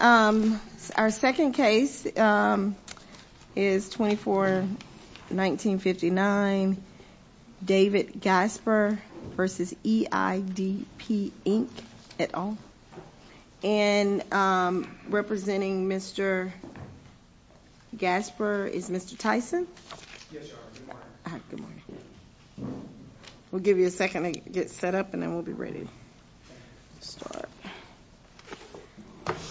Our second case is 24-19-59, David Gasper v. EIDP, Inc., et al. And representing Mr. Gasper is Mr. Tyson. Yes, Your Honor. Good morning. Good morning. We'll give you a second to get set up and then we'll be ready to start. Thank you.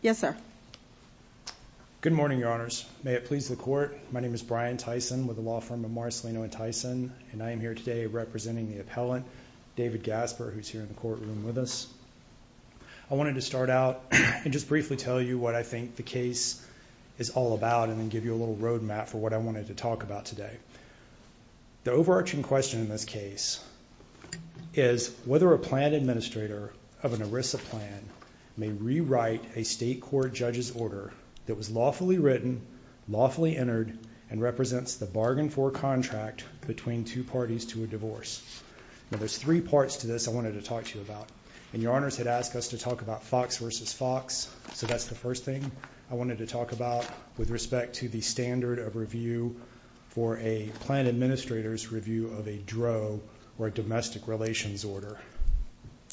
Yes, sir. Good morning, Your Honors. May it please the Court, my name is Brian Tyson with the law firm of Marcelino & Tyson, and I am here today representing the appellant, David Gasper, who is here in the courtroom with us. I wanted to start out and just briefly tell you what I think the case is all about and then give you a little road map for what I wanted to talk about today. The overarching question in this case is whether a plan administrator of an ERISA plan may rewrite a state court judge's order that was lawfully written, lawfully entered, and represents the bargain for contract between two parties to a divorce. Now, there's three parts to this I wanted to talk to you about, and Your Honors had asked us to talk about Fox v. Fox, so that's the first thing I wanted to talk about with respect to the standard of review for a plan administrator's review of a DRO or a domestic relations order.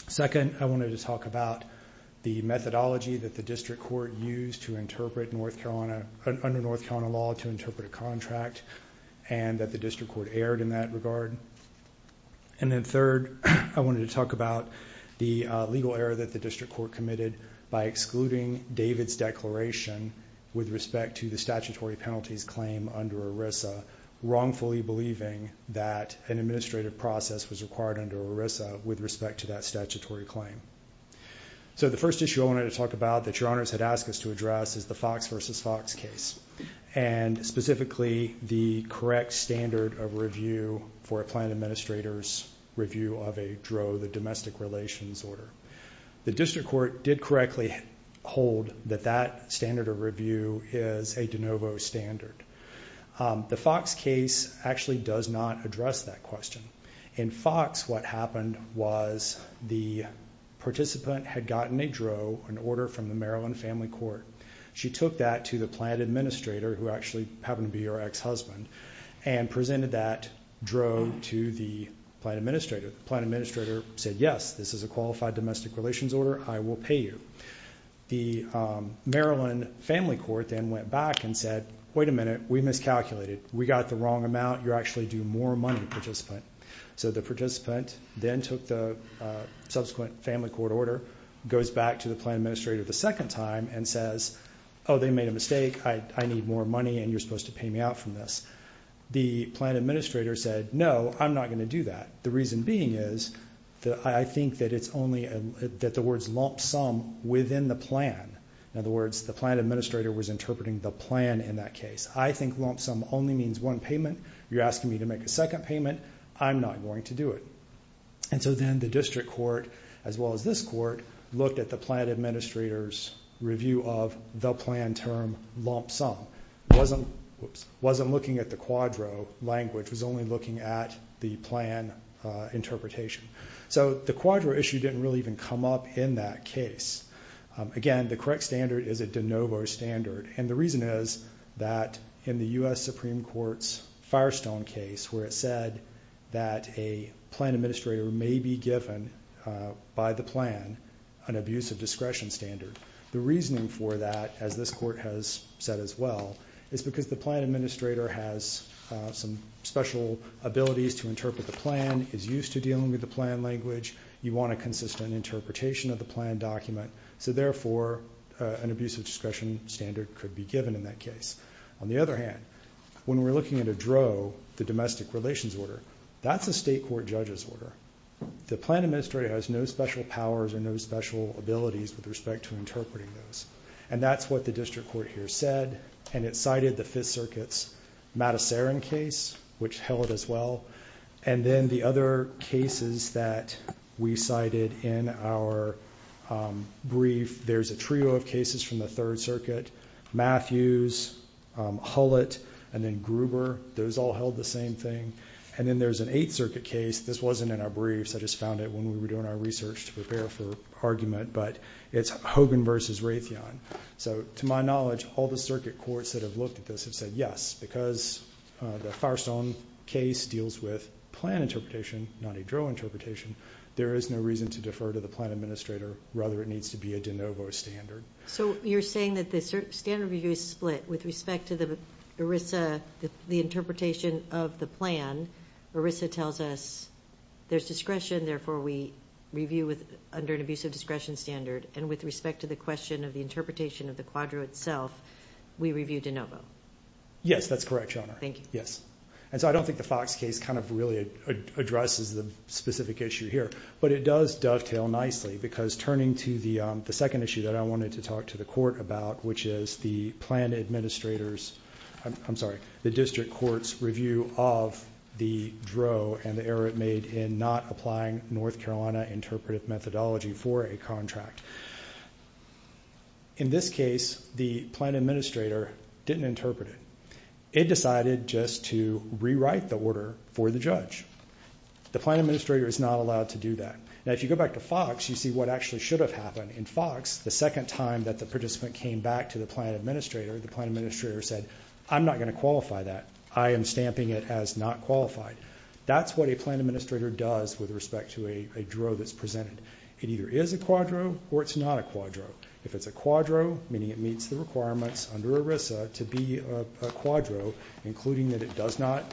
Second, I wanted to talk about the methodology that the district court used to interpret North Carolina, under North Carolina law, to interpret a contract and that the district court erred in that regard. And then third, I wanted to talk about the legal error that the district court committed by excluding David's declaration with respect to the statutory penalties claim under ERISA, wrongfully believing that an administrative process was required under ERISA with respect to that statutory claim. So the first issue I wanted to talk about that Your Honors had asked us to address is the Fox v. Fox case, and specifically the correct standard of review for a plan administrator's review of a DRO, the domestic relations order. The district court did correctly hold that that standard of review is a de novo standard. The Fox case actually does not address that question. In Fox, what happened was the participant had gotten a DRO, an order from the Maryland Family Court. She took that to the plan administrator, who actually happened to be her ex-husband, and presented that DRO to the plan administrator. The plan administrator said, yes, this is a qualified domestic relations order. I will pay you. The Maryland Family Court then went back and said, wait a minute, we miscalculated. We got the wrong amount. You're actually due more money, participant. So the participant then took the subsequent family court order, goes back to the plan administrator the second time, and says, oh, they made a mistake. I need more money, and you're supposed to pay me out from this. The plan administrator said, no, I'm not going to do that. The reason being is that I think that it's only that the words lump sum within the plan. In other words, the plan administrator was interpreting the plan in that case. I think lump sum only means one payment. You're asking me to make a second payment. I'm not going to do it. And so then the district court, as well as this court, looked at the plan administrator's review of the plan term lump sum. It wasn't looking at the quadro language. It was only looking at the plan interpretation. So the quadro issue didn't really even come up in that case. Again, the correct standard is a de novo standard, and the reason is that in the U.S. Supreme Court's Firestone case, where it said that a plan administrator may be given by the plan an abuse of discretion standard, the reasoning for that, as this court has said as well, is because the plan administrator has some special abilities to interpret the plan, is used to dealing with the plan language. You want a consistent interpretation of the plan document, so therefore an abuse of discretion standard could be given in that case. On the other hand, when we're looking at a dro, the domestic relations order, that's a state court judge's order. The plan administrator has no special powers or no special abilities with respect to interpreting those, and that's what the district court here said, and it cited the Fifth Circuit's Matasarin case, which held as well, and then the other cases that we cited in our brief, there's a trio of cases from the Third Circuit, Matthews, Hullett, and then Gruber. Those all held the same thing, and then there's an Eighth Circuit case. This wasn't in our briefs. I just found it when we were doing our research to prepare for argument, but it's Hogan v. Raytheon. So to my knowledge, all the circuit courts that have looked at this have said yes, because the Firestone case deals with plan interpretation, not a dro interpretation. There is no reason to defer to the plan administrator. Rather, it needs to be a de novo standard. So you're saying that the standard review is split with respect to the ERISA, the interpretation of the plan. ERISA tells us there's discretion, therefore we review under an abusive discretion standard, and with respect to the question of the interpretation of the quadro itself, we review de novo. Yes, that's correct, Your Honor. Thank you. Yes. And so I don't think the Fox case kind of really addresses the specific issue here, but it does dovetail nicely, because turning to the second issue that I wanted to talk to the court about, which is the district court's review of the dro and the error it made in not applying North Carolina interpretive methodology for a contract. In this case, the plan administrator didn't interpret it. It decided just to rewrite the order for the judge. The plan administrator is not allowed to do that. Now, if you go back to Fox, you see what actually should have happened. In Fox, the second time that the participant came back to the plan administrator, the plan administrator said, I'm not going to qualify that. I am stamping it as not qualified. That's what a plan administrator does with respect to a dro that's presented. It either is a quadro or it's not a quadro. If it's a quadro, meaning it meets the requirements under ERISA to be a quadro, including that it does not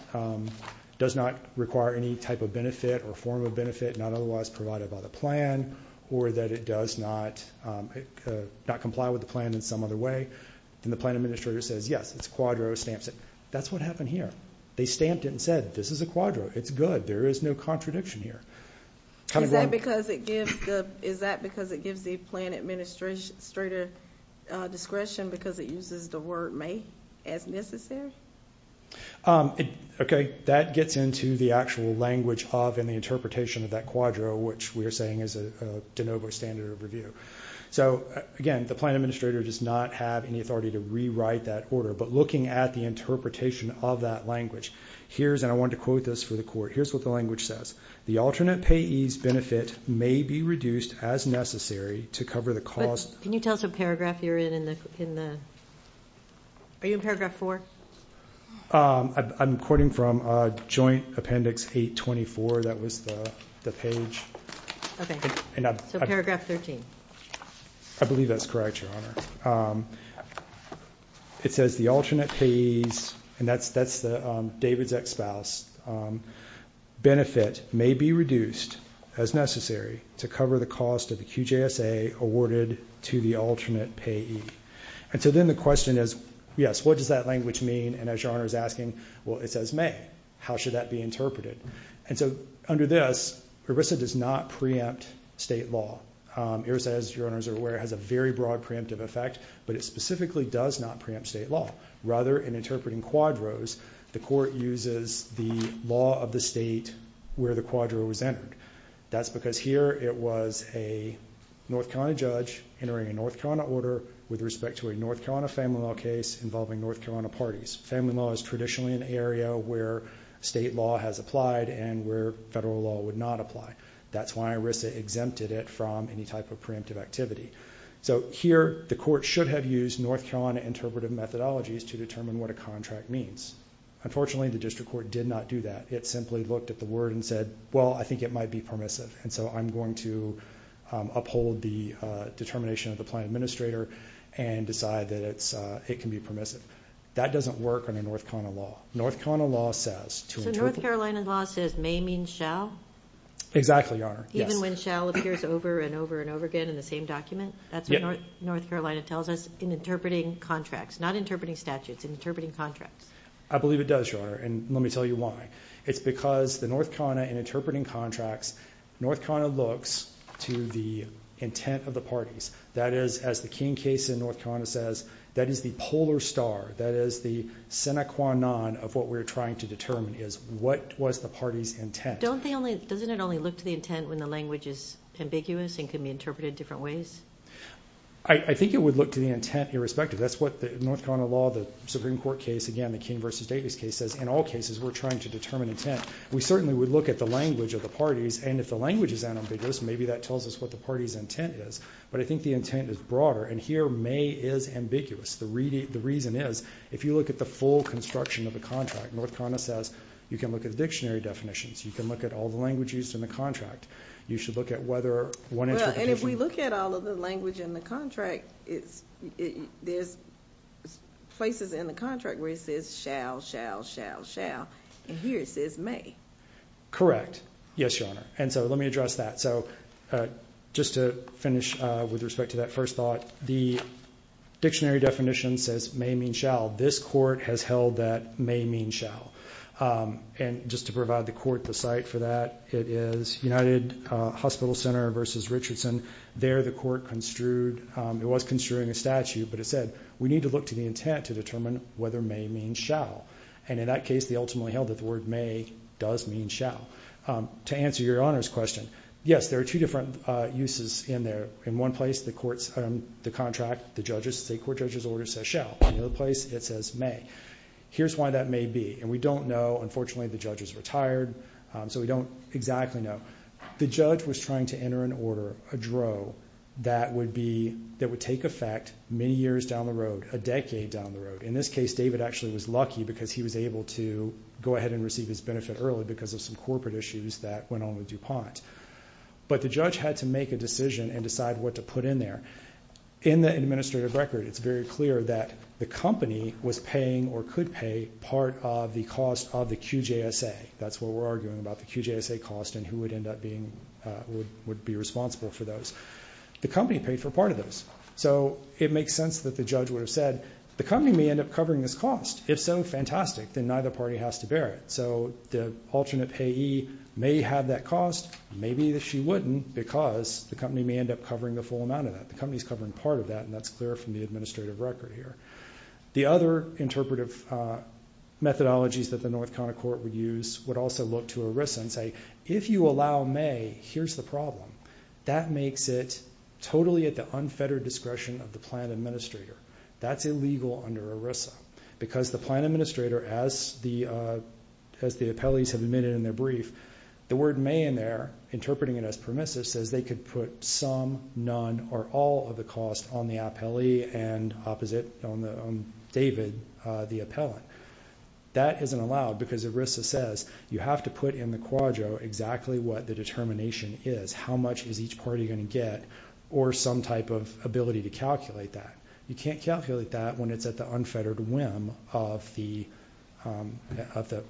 require any type of benefit or form of benefit, not otherwise provided by the plan, or that it does not comply with the plan in some other way, then the plan administrator says, yes, it's a quadro, stamps it. That's what happened here. They stamped it and said, this is a quadro. It's good. There is no contradiction here. Is that because it gives the plan administrator discretion because it uses the word may as necessary? Okay. That gets into the actual language of and the interpretation of that quadro, which we are saying is a de novo standard of review. So, again, the plan administrator does not have any authority to rewrite that order. But looking at the interpretation of that language, here's, and I wanted to quote this for the court, here's what the language says. The alternate payee's benefit may be reduced as necessary to cover the cost. Can you tell us what paragraph you're in? Are you in paragraph four? I'm quoting from joint appendix 824. That was the page. So paragraph 13. I believe that's correct, Your Honor. It says the alternate payee's, and that's David's ex-spouse, benefit may be reduced as necessary to cover the cost of the QJSA awarded to the alternate payee. And so then the question is, yes, what does that language mean? And as Your Honor is asking, well, it says may. How should that be interpreted? And so under this, ERISA does not preempt state law. ERISA, as Your Honor is aware, has a very broad preemptive effect, but it specifically does not preempt state law. Rather, in interpreting quadros, the court uses the law of the state where the quadro was entered. That's because here it was a North Carolina judge entering a North Carolina order with respect to a North Carolina family law case involving North Carolina parties. Family law is traditionally an area where state law has applied and where federal law would not apply. That's why ERISA exempted it from any type of preemptive activity. So here the court should have used North Carolina interpretive methodologies to determine what a contract means. Unfortunately, the district court did not do that. It simply looked at the word and said, well, I think it might be permissive, and so I'm going to uphold the determination of the plan administrator and decide that it can be permissive. That doesn't work under North Carolina law. North Carolina law says to interpret. So North Carolina law says may means shall? Exactly, Your Honor, yes. And when shall appears over and over and over again in the same document, that's what North Carolina tells us in interpreting contracts, not interpreting statutes, in interpreting contracts. I believe it does, Your Honor, and let me tell you why. It's because the North Carolina, in interpreting contracts, North Carolina looks to the intent of the parties. That is, as the King case in North Carolina says, that is the polar star, that is the sine qua non of what we're trying to determine is what was the party's intent. But doesn't it only look to the intent when the language is ambiguous and can be interpreted different ways? I think it would look to the intent irrespective. That's what North Carolina law, the Supreme Court case, again, the King v. Davis case says in all cases we're trying to determine intent. We certainly would look at the language of the parties, and if the language is ambiguous, maybe that tells us what the party's intent is. But I think the intent is broader, and here may is ambiguous. The reason is if you look at the full construction of a contract, North Carolina says you can look at the dictionary definitions, you can look at all the languages in the contract. You should look at whether one interpretation. Well, and if we look at all of the language in the contract, there's places in the contract where it says shall, shall, shall, shall, and here it says may. Correct. Yes, Your Honor. And so let me address that. So just to finish with respect to that first thought, the dictionary definition says may mean shall. This court has held that may mean shall. And just to provide the court the site for that, it is United Hospital Center v. Richardson. There the court construed, it was construing a statute, but it said we need to look to the intent to determine whether may mean shall. And in that case they ultimately held that the word may does mean shall. To answer Your Honor's question, yes, there are two different uses in there. In one place the contract, the judges, the court judge's order says shall. In the other place it says may. Here's why that may be. And we don't know. Unfortunately the judge is retired, so we don't exactly know. The judge was trying to enter an order, a drow, that would take effect many years down the road, a decade down the road. In this case David actually was lucky because he was able to go ahead and receive his benefit early because of some corporate issues that went on with DuPont. But the judge had to make a decision and decide what to put in there. In the administrative record it's very clear that the company was paying or could pay part of the cost of the QJSA. That's what we're arguing about, the QJSA cost and who would end up being responsible for those. The company paid for part of those. So it makes sense that the judge would have said, the company may end up covering this cost. If so, fantastic. Then neither party has to bear it. So the alternate payee may have that cost, maybe she wouldn't, because the company may end up covering the full amount of that. The company is covering part of that, and that's clear from the administrative record here. The other interpretive methodologies that the North Cona Court would use would also look to ERISA and say, if you allow may, here's the problem. That makes it totally at the unfettered discretion of the plan administrator. That's illegal under ERISA because the plan administrator, as the appellees have admitted in their brief, the word may in there, interpreting it as permissive, says they could put some, none, or all of the cost on the appellee and opposite on David, the appellant. That isn't allowed because ERISA says you have to put in the quadro exactly what the determination is, how much is each party going to get, or some type of ability to calculate that. You can't calculate that when it's at the unfettered whim of the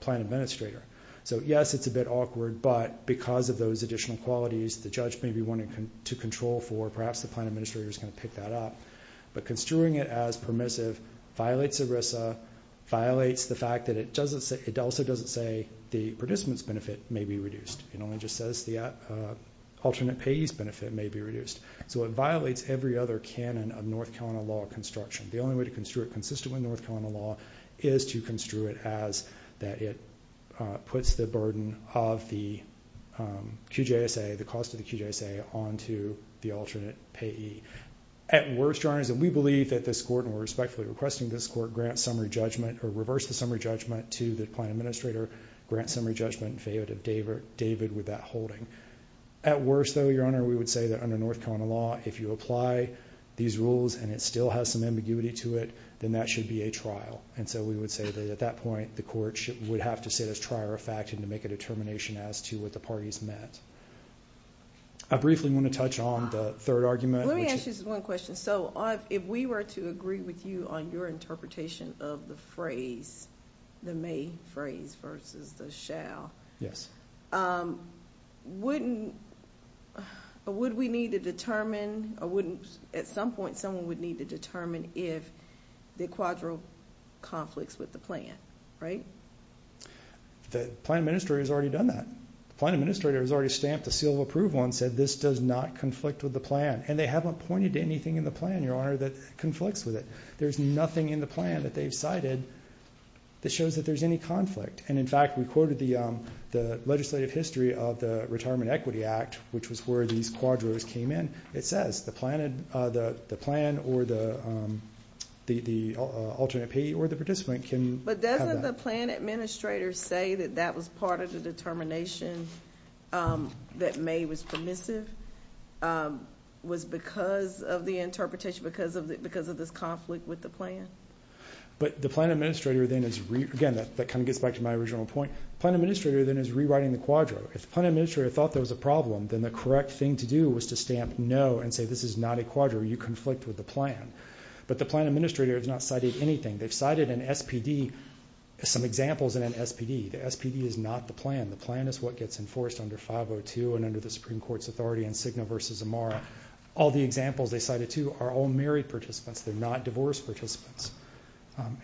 plan administrator. So, yes, it's a bit awkward, but because of those additional qualities, the judge may be wanting to control for, perhaps the plan administrator is going to pick that up. But construing it as permissive violates ERISA, violates the fact that it also doesn't say the participant's benefit may be reduced. It only just says the alternate payee's benefit may be reduced. So it violates every other canon of North Carolina law construction. The only way to construe it consistently in North Carolina law is to construe it as that it puts the burden of the QJSA, the cost of the QJSA, onto the alternate payee. At worst, Your Honor, we believe that this court, and we're respectfully requesting this court grant summary judgment or reverse the summary judgment to the plan administrator, grant summary judgment in favor of David with that holding. At worst, though, Your Honor, we would say that under North Carolina law, if you apply these rules and it still has some ambiguity to it, then that should be a trial. So we would say that at that point the court would have to sit as trier of fact and to make a determination as to what the parties met. I briefly want to touch on the third argument, which is one question. So if we were to agree with you on your interpretation of the phrase, the may phrase versus the shall, wouldn't we need to determine or wouldn't at some point someone would need to determine if the quadro conflicts with the plan, right? The plan administrator has already done that. The plan administrator has already stamped the seal of approval and said this does not conflict with the plan. And they haven't pointed to anything in the plan, Your Honor, that conflicts with it. There's nothing in the plan that they've cited that shows that there's any conflict. And, in fact, we quoted the legislative history of the Retirement Equity Act, which was where these quadros came in. It says the plan or the alternate payee or the participant can have that. But doesn't the plan administrator say that that was part of the determination that may was permissive was because of the interpretation, because of this conflict with the plan? But the plan administrator then is, again, that kind of gets back to my original point, the plan administrator then is rewriting the quadro. If the plan administrator thought there was a problem, then the correct thing to do was to stamp no and say this is not a quadro, you conflict with the plan. But the plan administrator has not cited anything. They've cited an SPD, some examples in an SPD. The SPD is not the plan. The plan is what gets enforced under 502 and under the Supreme Court's authority in Cigna versus Amara. All the examples they cited, too, are all married participants. They're not divorced participants.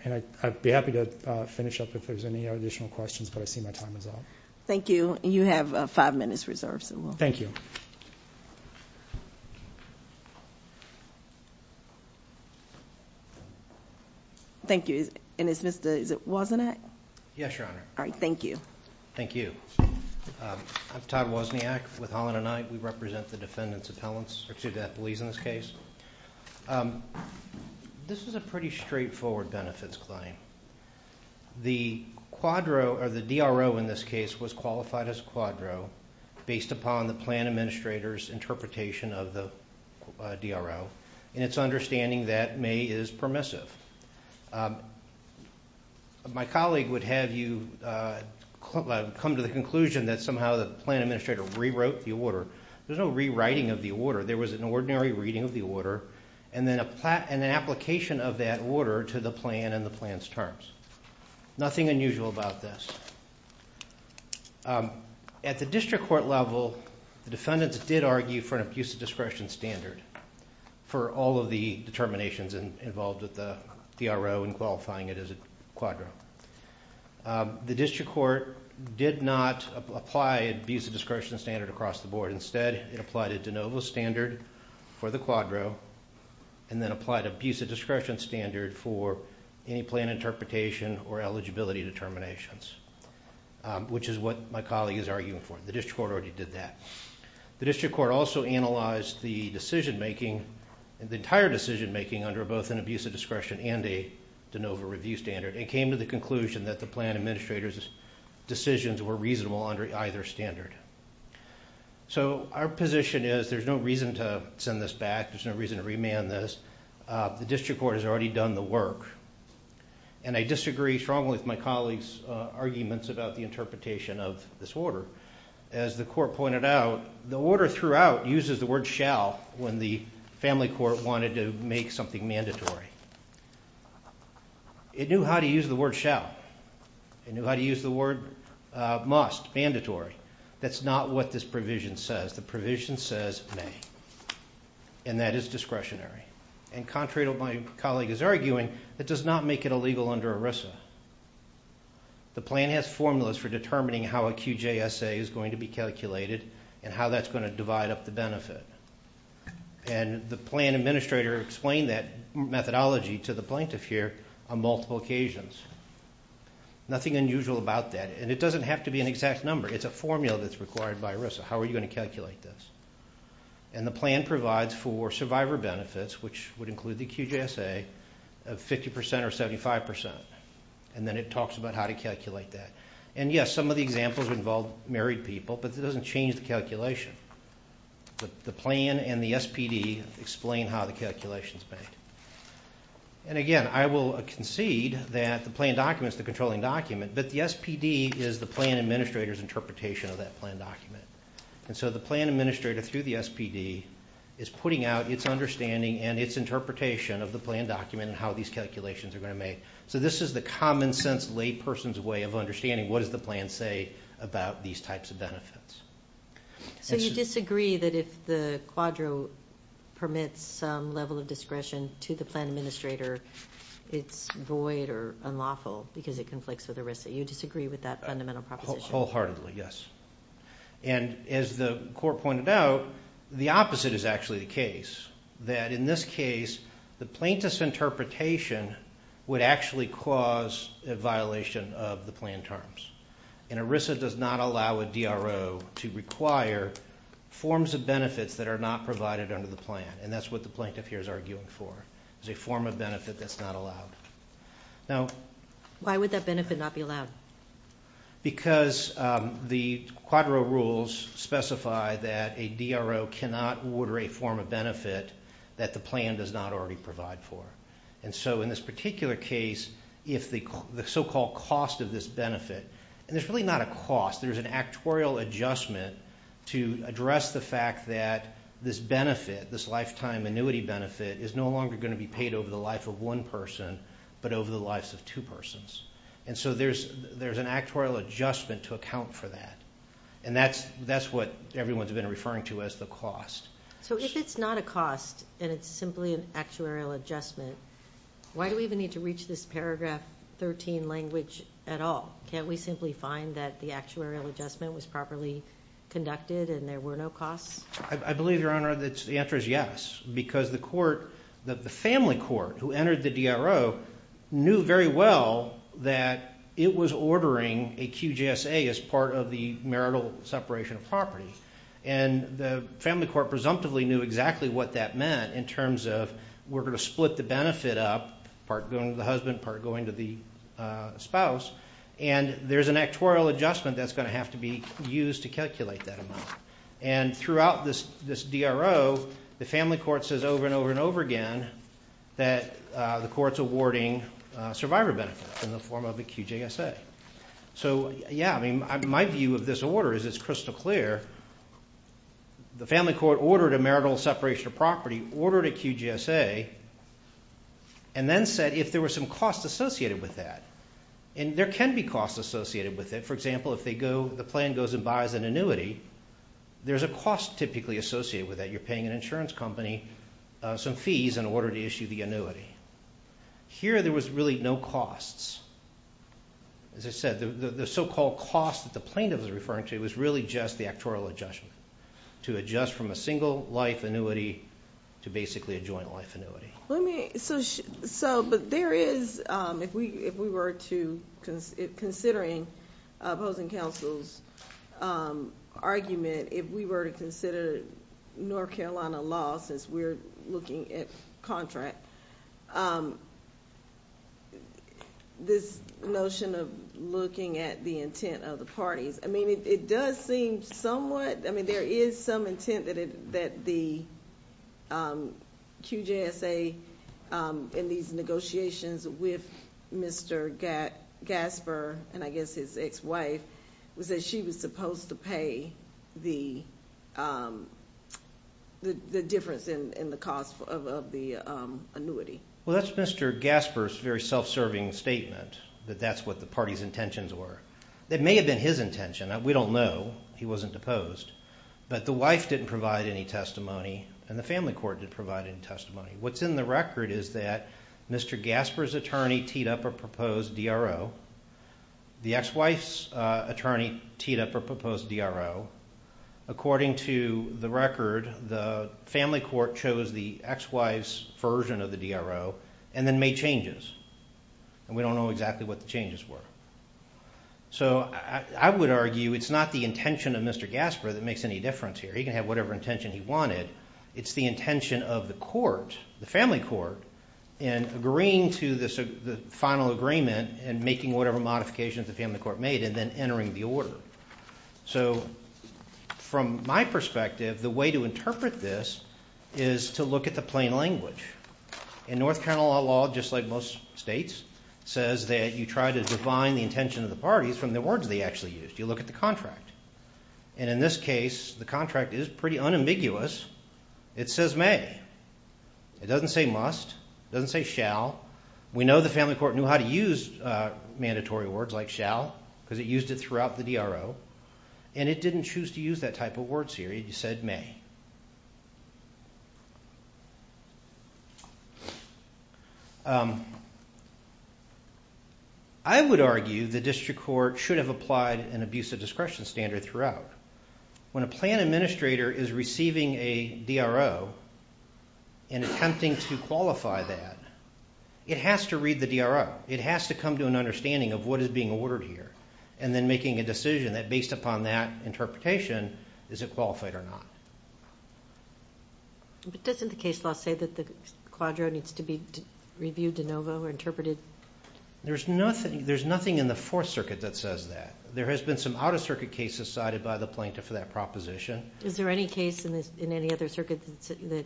And I'd be happy to finish up if there's any additional questions, but I see my time is up. Thank you. And you have five minutes reserved, so we'll. Thank you. Thank you. And it's Mr. Wasn't It? Yes, Your Honor. All right, thank you. Thank you. I'm Todd Wasniak with Holland and I. We represent the defendant's appellants, or two deputies in this case. This is a pretty straightforward benefits claim. The quadro, or the DRO in this case, was qualified as a quadro based upon the plan administrator's interpretation of the DRO and its understanding that may is permissive. My colleague would have you come to the conclusion that somehow the plan administrator rewrote the order. There's no rewriting of the order. There was an ordinary reading of the order and an application of that order to the plan and the plan's terms. Nothing unusual about this. At the district court level, the defendants did argue for an abuse of discretion standard for all of the determinations involved with the DRO and qualifying it as a quadro. The district court did not apply an abuse of discretion standard across the board. Instead, it applied a de novo standard for the quadro and then applied an abuse of discretion standard for any plan interpretation or eligibility determinations, which is what my colleague is arguing for. The district court already did that. The district court also analyzed the decision making, the entire decision making under both an abuse of discretion and a de novo review standard and came to the conclusion that the plan administrator's decisions were reasonable under either standard. Our position is there's no reason to send this back. There's no reason to remand this. The district court has already done the work. I disagree strongly with my colleague's arguments about the interpretation of this order. As the court pointed out, the order throughout uses the word shall when the family court wanted to make something mandatory. It knew how to use the word shall. It knew how to use the word must, mandatory. That's not what this provision says. The provision says may, and that is discretionary. And contrary to what my colleague is arguing, that does not make it illegal under ERISA. The plan has formulas for determining how a QJSA is going to be And the plan administrator explained that methodology to the plaintiff here on multiple occasions. Nothing unusual about that, and it doesn't have to be an exact number. It's a formula that's required by ERISA. How are you going to calculate this? And the plan provides for survivor benefits, which would include the QJSA, of 50% or 75%, and then it talks about how to calculate that. And, yes, some of the examples involve married people, but it doesn't change the calculation. The plan and the SPD explain how the calculation is made. And, again, I will concede that the plan document is the controlling document, but the SPD is the plan administrator's interpretation of that plan document. And so the plan administrator, through the SPD, is putting out its understanding and its interpretation of the plan document and how these calculations are going to be made. So this is the common-sense layperson's way of understanding what does the plan say about these types of benefits. So you disagree that if the quadro permits some level of discretion to the plan administrator, it's void or unlawful because it conflicts with ERISA. You disagree with that fundamental proposition? Wholeheartedly, yes. And, as the court pointed out, the opposite is actually the case, that in this case the plaintiff's interpretation would actually cause a violation of the plan terms. And ERISA does not allow a DRO to require forms of benefits that are not provided under the plan. And that's what the plaintiff here is arguing for, is a form of benefit that's not allowed. Why would that benefit not be allowed? Because the quadro rules specify that a DRO cannot order a form of benefit that the plan does not already provide for. And so in this particular case, if the so-called cost of this benefit, and there's really not a cost, there's an actuarial adjustment to address the fact that this benefit, this lifetime annuity benefit, is no longer going to be paid over the life of one person, but over the lives of two persons. And so there's an actuarial adjustment to account for that. And that's what everyone's been referring to as the cost. So if it's not a cost and it's simply an actuarial adjustment, why do we even need to reach this paragraph 13 language at all? Can't we simply find that the actuarial adjustment was properly conducted and there were no costs? I believe, Your Honor, that the answer is yes. Because the court, the family court who entered the DRO, knew very well that it was ordering a QJSA as part of the marital separation of property. And the family court presumptively knew exactly what that meant in terms of we're going to split the benefit up, part going to the husband, part going to the spouse, and there's an actuarial adjustment that's going to have to be used to calculate that amount. And throughout this DRO, the family court says over and over and over again that the court's awarding survivor benefits in the form of a QJSA. So, yeah, I mean, my view of this order is it's crystal clear. The family court ordered a marital separation of property, ordered a QJSA, and then said if there were some costs associated with that. And there can be costs associated with it. For example, if the plan goes and buys an annuity, there's a cost typically associated with that. You're paying an insurance company some fees in order to issue the annuity. Here there was really no costs. As I said, the so-called cost that the plaintiff was referring to was really just the actuarial adjustment, to adjust from a single-life annuity to basically a joint-life annuity. So, but there is, if we were to, considering opposing counsel's argument, if we were to consider North Carolina law, since we're looking at contract, this notion of looking at the intent of the parties. I mean, it does seem somewhat, I mean, there is some intent that the QJSA in these negotiations with Mr. Gasper, and I guess his ex-wife, was that she was supposed to pay the difference in the cost of the annuity. Well, that's Mr. Gasper's very self-serving statement, that that's what the party's intentions were. That may have been his intention. We don't know. He wasn't deposed. But the wife didn't provide any testimony, and the family court didn't provide any testimony. What's in the record is that Mr. Gasper's attorney teed up a proposed DRO. The ex-wife's attorney teed up a proposed DRO. According to the record, the family court chose the ex-wife's version of the DRO and then made changes. And we don't know exactly what the changes were. So I would argue it's not the intention of Mr. Gasper that makes any difference here. He can have whatever intention he wanted. It's the intention of the court, the family court, in agreeing to the final agreement and making whatever modifications the family court made and then entering the order. So from my perspective, the way to interpret this is to look at the plain language. In North Carolina law, just like most states, it says that you try to define the intention of the parties from the words they actually used. You look at the contract. And in this case, the contract is pretty unambiguous. It says may. It doesn't say must. It doesn't say shall. We know the family court knew how to use mandatory words like shall because it used it throughout the DRO. And it didn't choose to use that type of word series. It said may. I would argue the district court should have applied an abusive discretion standard throughout. When a plan administrator is receiving a DRO, and attempting to qualify that, it has to read the DRO. It has to come to an understanding of what is being ordered here and then making a decision that, based upon that interpretation, is it qualified or not. But doesn't the case law say that the quadro needs to be reviewed de novo or interpreted? There's nothing in the Fourth Circuit that says that. There has been some out-of-circuit cases cited by the plaintiff for that proposition. Is there any case in any other circuit that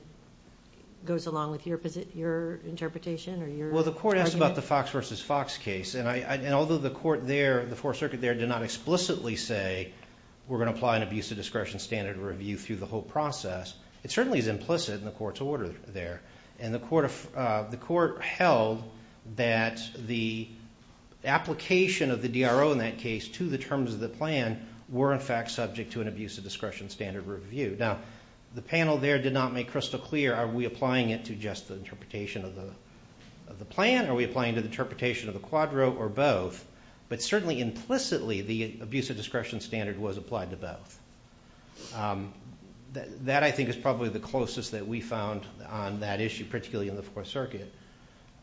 goes along with your interpretation or your argument? Well, the court asked about the Fox v. Fox case. And although the court there, the Fourth Circuit there, did not explicitly say, we're going to apply an abusive discretion standard review through the whole process, it certainly is implicit in the court's order there. And the court held that the application of the DRO in that case to the terms of the plan were, in fact, subject to an abusive discretion standard review. Now, the panel there did not make crystal clear, are we applying it to just the interpretation of the plan, are we applying it to the interpretation of the quadro, or both? But certainly implicitly, the abusive discretion standard was applied to both. That, I think, is probably the closest that we found on that issue, particularly in the Fourth Circuit.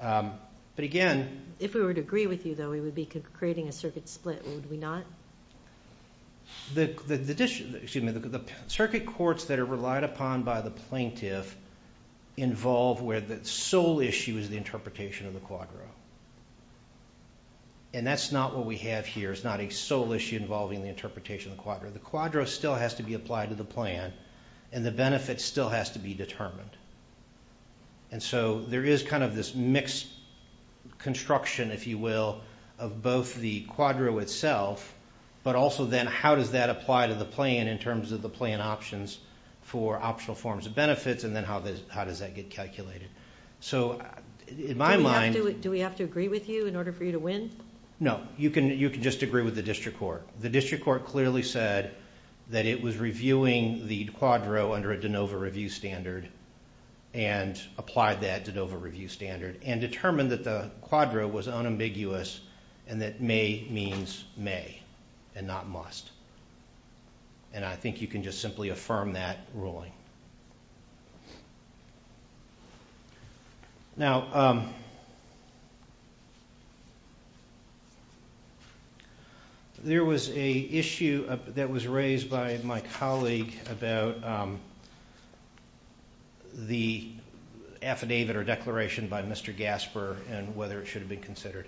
If we were to agree with you, though, we would be creating a circuit split, would we not? The circuit courts that are relied upon by the plaintiff involve where the sole issue is the interpretation of the quadro. And that's not what we have here, it's not a sole issue involving the interpretation of the quadro. The quadro still has to be applied to the plan, and the benefit still has to be determined. And so there is kind of this mixed construction, if you will, of both the quadro itself, but also then how does that apply to the plan in terms of the plan options for optional forms of benefits, and then how does that get calculated. So, in my mind... Do we have to agree with you in order for you to win? No, you can just agree with the district court. The district court clearly said that it was reviewing the quadro under a de novo review standard, and applied that de novo review standard, and determined that the quadro was unambiguous, and that may means may, and not must. And I think you can just simply affirm that ruling. Now... There was an issue that was raised by my colleague about the affidavit or declaration by Mr. Gasper, and whether it should have been considered.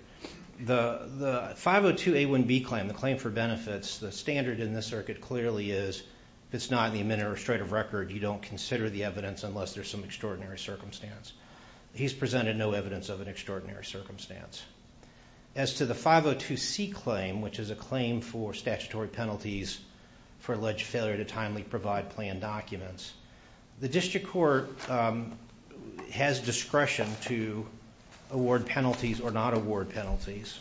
The 502A1B claim, the claim for benefits, the standard in this circuit clearly is, if it's not in the administrative record, you don't consider the evidence unless there's some extraordinary circumstance. He's presented no evidence of an extraordinary circumstance. As to the 502C claim, which is a claim for statutory penalties for alleged failure to timely provide plan documents, the district court has discretion to award penalties or not award penalties.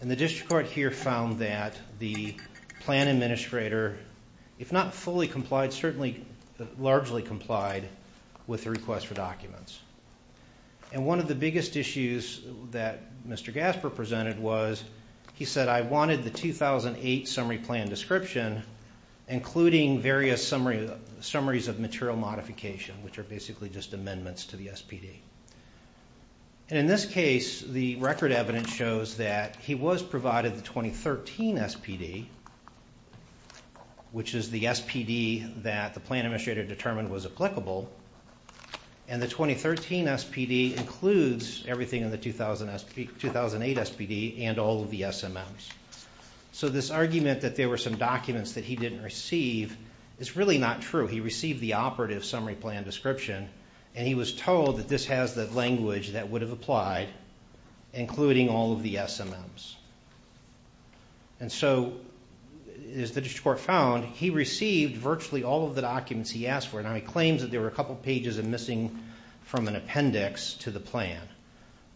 And the district court here found that the plan administrator, if not fully complied, certainly largely complied with the request for documents. And one of the biggest issues that Mr. Gasper presented was, he said, I wanted the 2008 summary plan description, including various summaries of material modification, which are basically just amendments to the SPD. And in this case, the record evidence shows that he was provided the 2013 SPD, which is the SPD that the plan administrator determined was applicable. And the 2013 SPD includes everything in the 2008 SPD and all of the SMMs. So this argument that there were some documents that he didn't receive is really not true. He received the operative summary plan description, and he was told that this has the language that would have applied, including all of the SMMs. And so, as the district court found, he received virtually all of the documents he asked for. Now, he claims that there were a couple pages of missing from an appendix to the plan.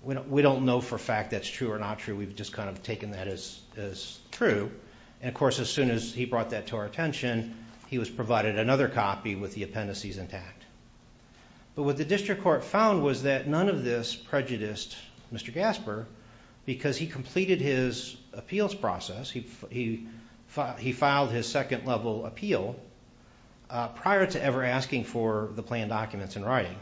We don't know for a fact that's true or not true. We've just kind of taken that as true. And of course, as soon as he brought that to our attention, he was provided another copy with the appendices intact. But what the district court found was that none of this prejudiced Mr. Gasper because he completed his appeals process. He filed his second-level appeal prior to ever asking for the plan documents in writing.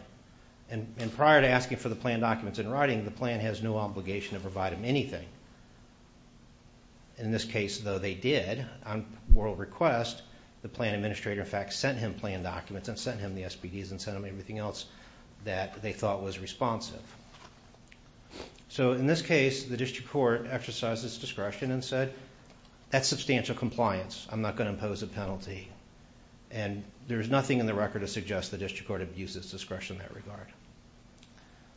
And prior to asking for the plan documents in writing, the plan has no obligation to provide him anything. In this case, though, they did. On moral request, the plan administrator, in fact, sent him plan documents and sent him the SPDs and sent him everything else that they thought was responsive. So, in this case, the district court exercised its discretion and said, that's substantial compliance. I'm not going to impose a penalty. And there's nothing in the record to suggest the district court abused its discretion in that regard.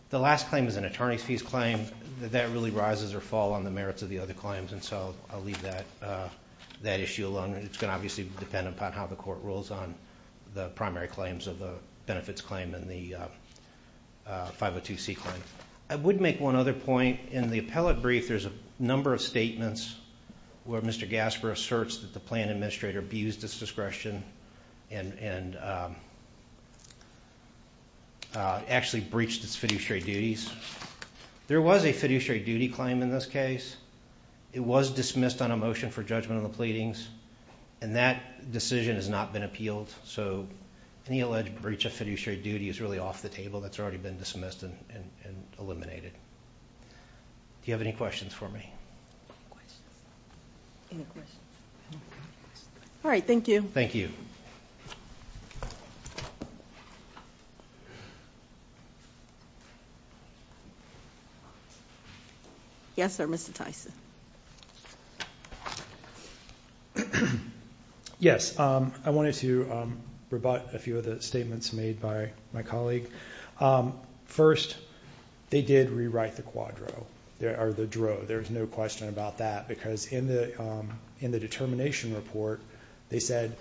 The last claim is an attorney's fees claim. That really rises or fall on the merits of the other claims. And so, I'll leave that issue alone. It's going to obviously depend upon how the court rules on the primary claims in terms of the benefits claim and the 502c claim. I would make one other point. In the appellate brief, there's a number of statements where Mr. Gasper asserts that the plan administrator abused its discretion and actually breached its fiduciary duties. There was a fiduciary duty claim in this case. It was dismissed on a motion for judgment on the pleadings. And that decision has not been appealed. So, any alleged breach of fiduciary duty is really off the table. That's already been dismissed and eliminated. Do you have any questions for me? All right. Thank you. Thank you. Yes, sir. Mr. Tyson. Yes. I wanted to rebut a few of the statements made by my colleague. First, they did rewrite the quadro or the dro. There's no question about that because in the determination report, they said,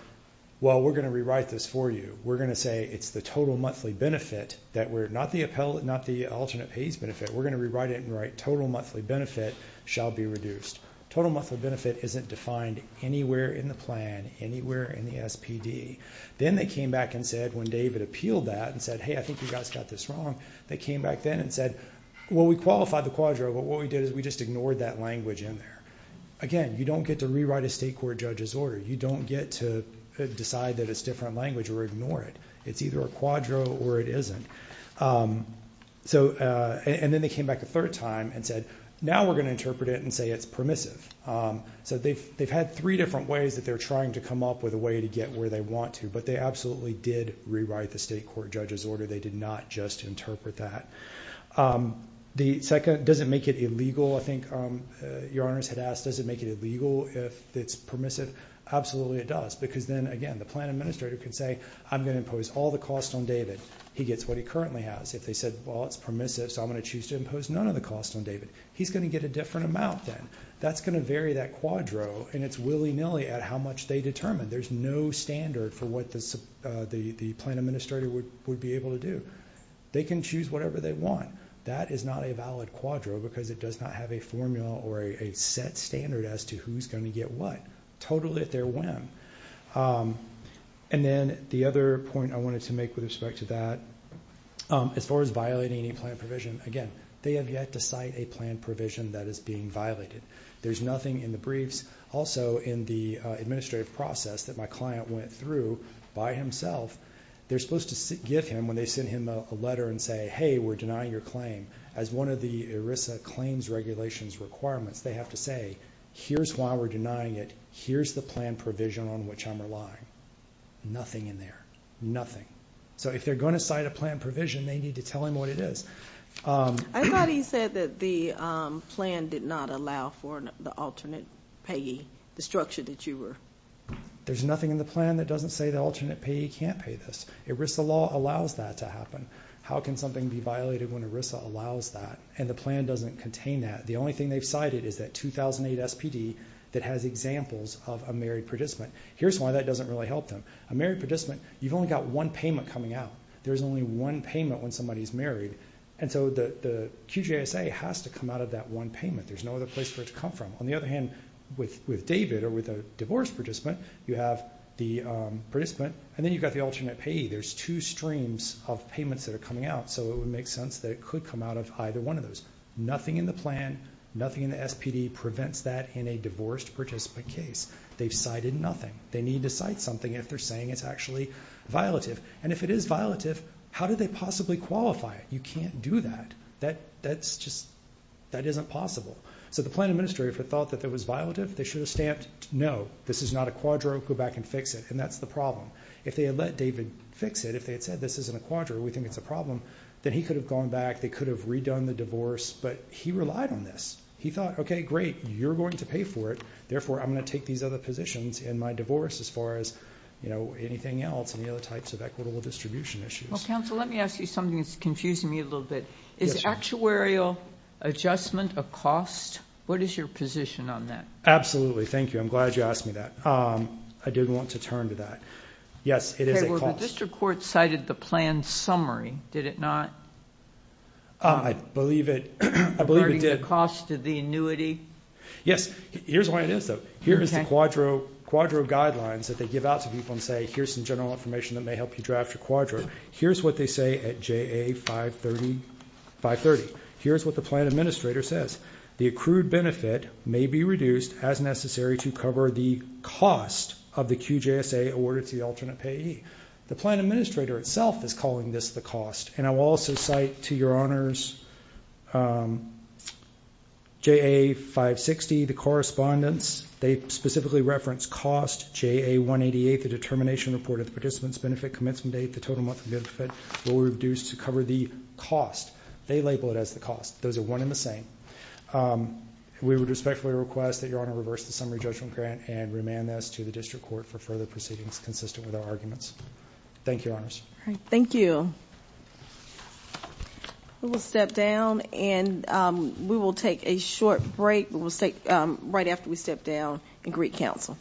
well, we're going to rewrite this for you. We're going to say it's the total monthly benefit. Not the alternate pays benefit. We're going to rewrite it and write the total monthly benefit shall be reduced. Total monthly benefit isn't defined anywhere in the plan, anywhere in the SPD. Then they came back and said when David appealed that and said, hey, I think you guys got this wrong. They came back then and said, well, we qualified the quadro, but what we did is we just ignored that language in there. Again, you don't get to rewrite a state court judge's order. You don't get to decide that it's different language or ignore it. It's either a quadro or it isn't. Then they came back a third time and said, now we're going to interpret it and say it's permissive. They've had three different ways that they're trying to come up with a way to get where they want to, but they absolutely did rewrite the state court judge's order. They did not just interpret that. The second, does it make it illegal? I think your honors had asked, does it make it illegal if it's permissive? Absolutely it does because then, again, the plan administrator can say, I'm going to impose all the costs on David. He gets what he currently has. If they said, well, it's permissive, so I'm going to choose to impose none of the costs on David, he's going to get a different amount then. That's going to vary that quadro, and it's willy-nilly at how much they determine. There's no standard for what the plan administrator would be able to do. They can choose whatever they want. That is not a valid quadro because it does not have a formula or a set standard as to who's going to get what, totally at their whim. Then the other point I wanted to make with respect to that, as far as violating any plan provision, again, they have yet to cite a plan provision that is being violated. There's nothing in the briefs, also in the administrative process that my client went through by himself. They're supposed to give him when they send him a letter and say, hey, we're denying your claim. As one of the ERISA claims regulations requirements, they have to say, here's why we're denying it. Here's the plan provision on which I'm relying. Nothing in there, nothing. So if they're going to cite a plan provision, they need to tell him what it is. I thought he said that the plan did not allow for the alternate payee, the structure that you were. There's nothing in the plan that doesn't say the alternate payee can't pay this. ERISA law allows that to happen. How can something be violated when ERISA allows that and the plan doesn't contain that? The only thing they've cited is that 2008 SPD that has examples of a married participant. Here's why that doesn't really help them. A married participant, you've only got one payment coming out. There's only one payment when somebody's married. And so the QJSA has to come out of that one payment. There's no other place for it to come from. On the other hand, with David or with a divorced participant, you have the participant and then you've got the alternate payee. There's two streams of payments that are coming out, so it would make sense that it could come out of either one of those. Nothing in the plan, nothing in the SPD prevents that in a divorced participant case. They've cited nothing. They need to cite something if they're saying it's actually violative. And if it is violative, how do they possibly qualify it? You can't do that. That's just, that isn't possible. So the plan administrator, if they thought that it was violative, they should have stamped no, this is not a quadro, go back and fix it. And that's the problem. If they had let David fix it, if they had said this isn't a quadro, we think it's a problem, then he could have gone back, they could have redone the divorce, but he relied on this. He thought, okay, great, you're going to pay for it, therefore I'm going to take these other positions in my divorce as far as, you know, anything else, any other types of equitable distribution issues. Well, counsel, let me ask you something that's confusing me a little bit. Is actuarial adjustment a cost? What is your position on that? Absolutely. Thank you. I'm glad you asked me that. I didn't want to turn to that. Yes, it is a cost. The district court cited the plan summary, did it not? I believe it did. Regarding the cost of the annuity? Yes. Here's why it is, though. Here is the quadro guidelines that they give out to people and say, here's some general information that may help you draft your quadro. Here's what they say at JA530. Here's what the plan administrator says. The accrued benefit may be reduced as necessary to cover the cost of the QJSA awarded to the alternate payee. The plan administrator itself is calling this the cost. And I will also cite to your honors, JA560, the correspondence. They specifically reference cost, JA188, the determination report of the participant's benefit commencement date, the total monthly benefit, will be reduced to cover the cost. They label it as the cost. Those are one and the same. We would respectfully request that your honor reverse the summary judgment grant and remand this to the district court for further proceedings consistent with our arguments. Thank you, your honors. Thank you. We will step down and we will take a short break. We will stay right after we step down and greet counsel.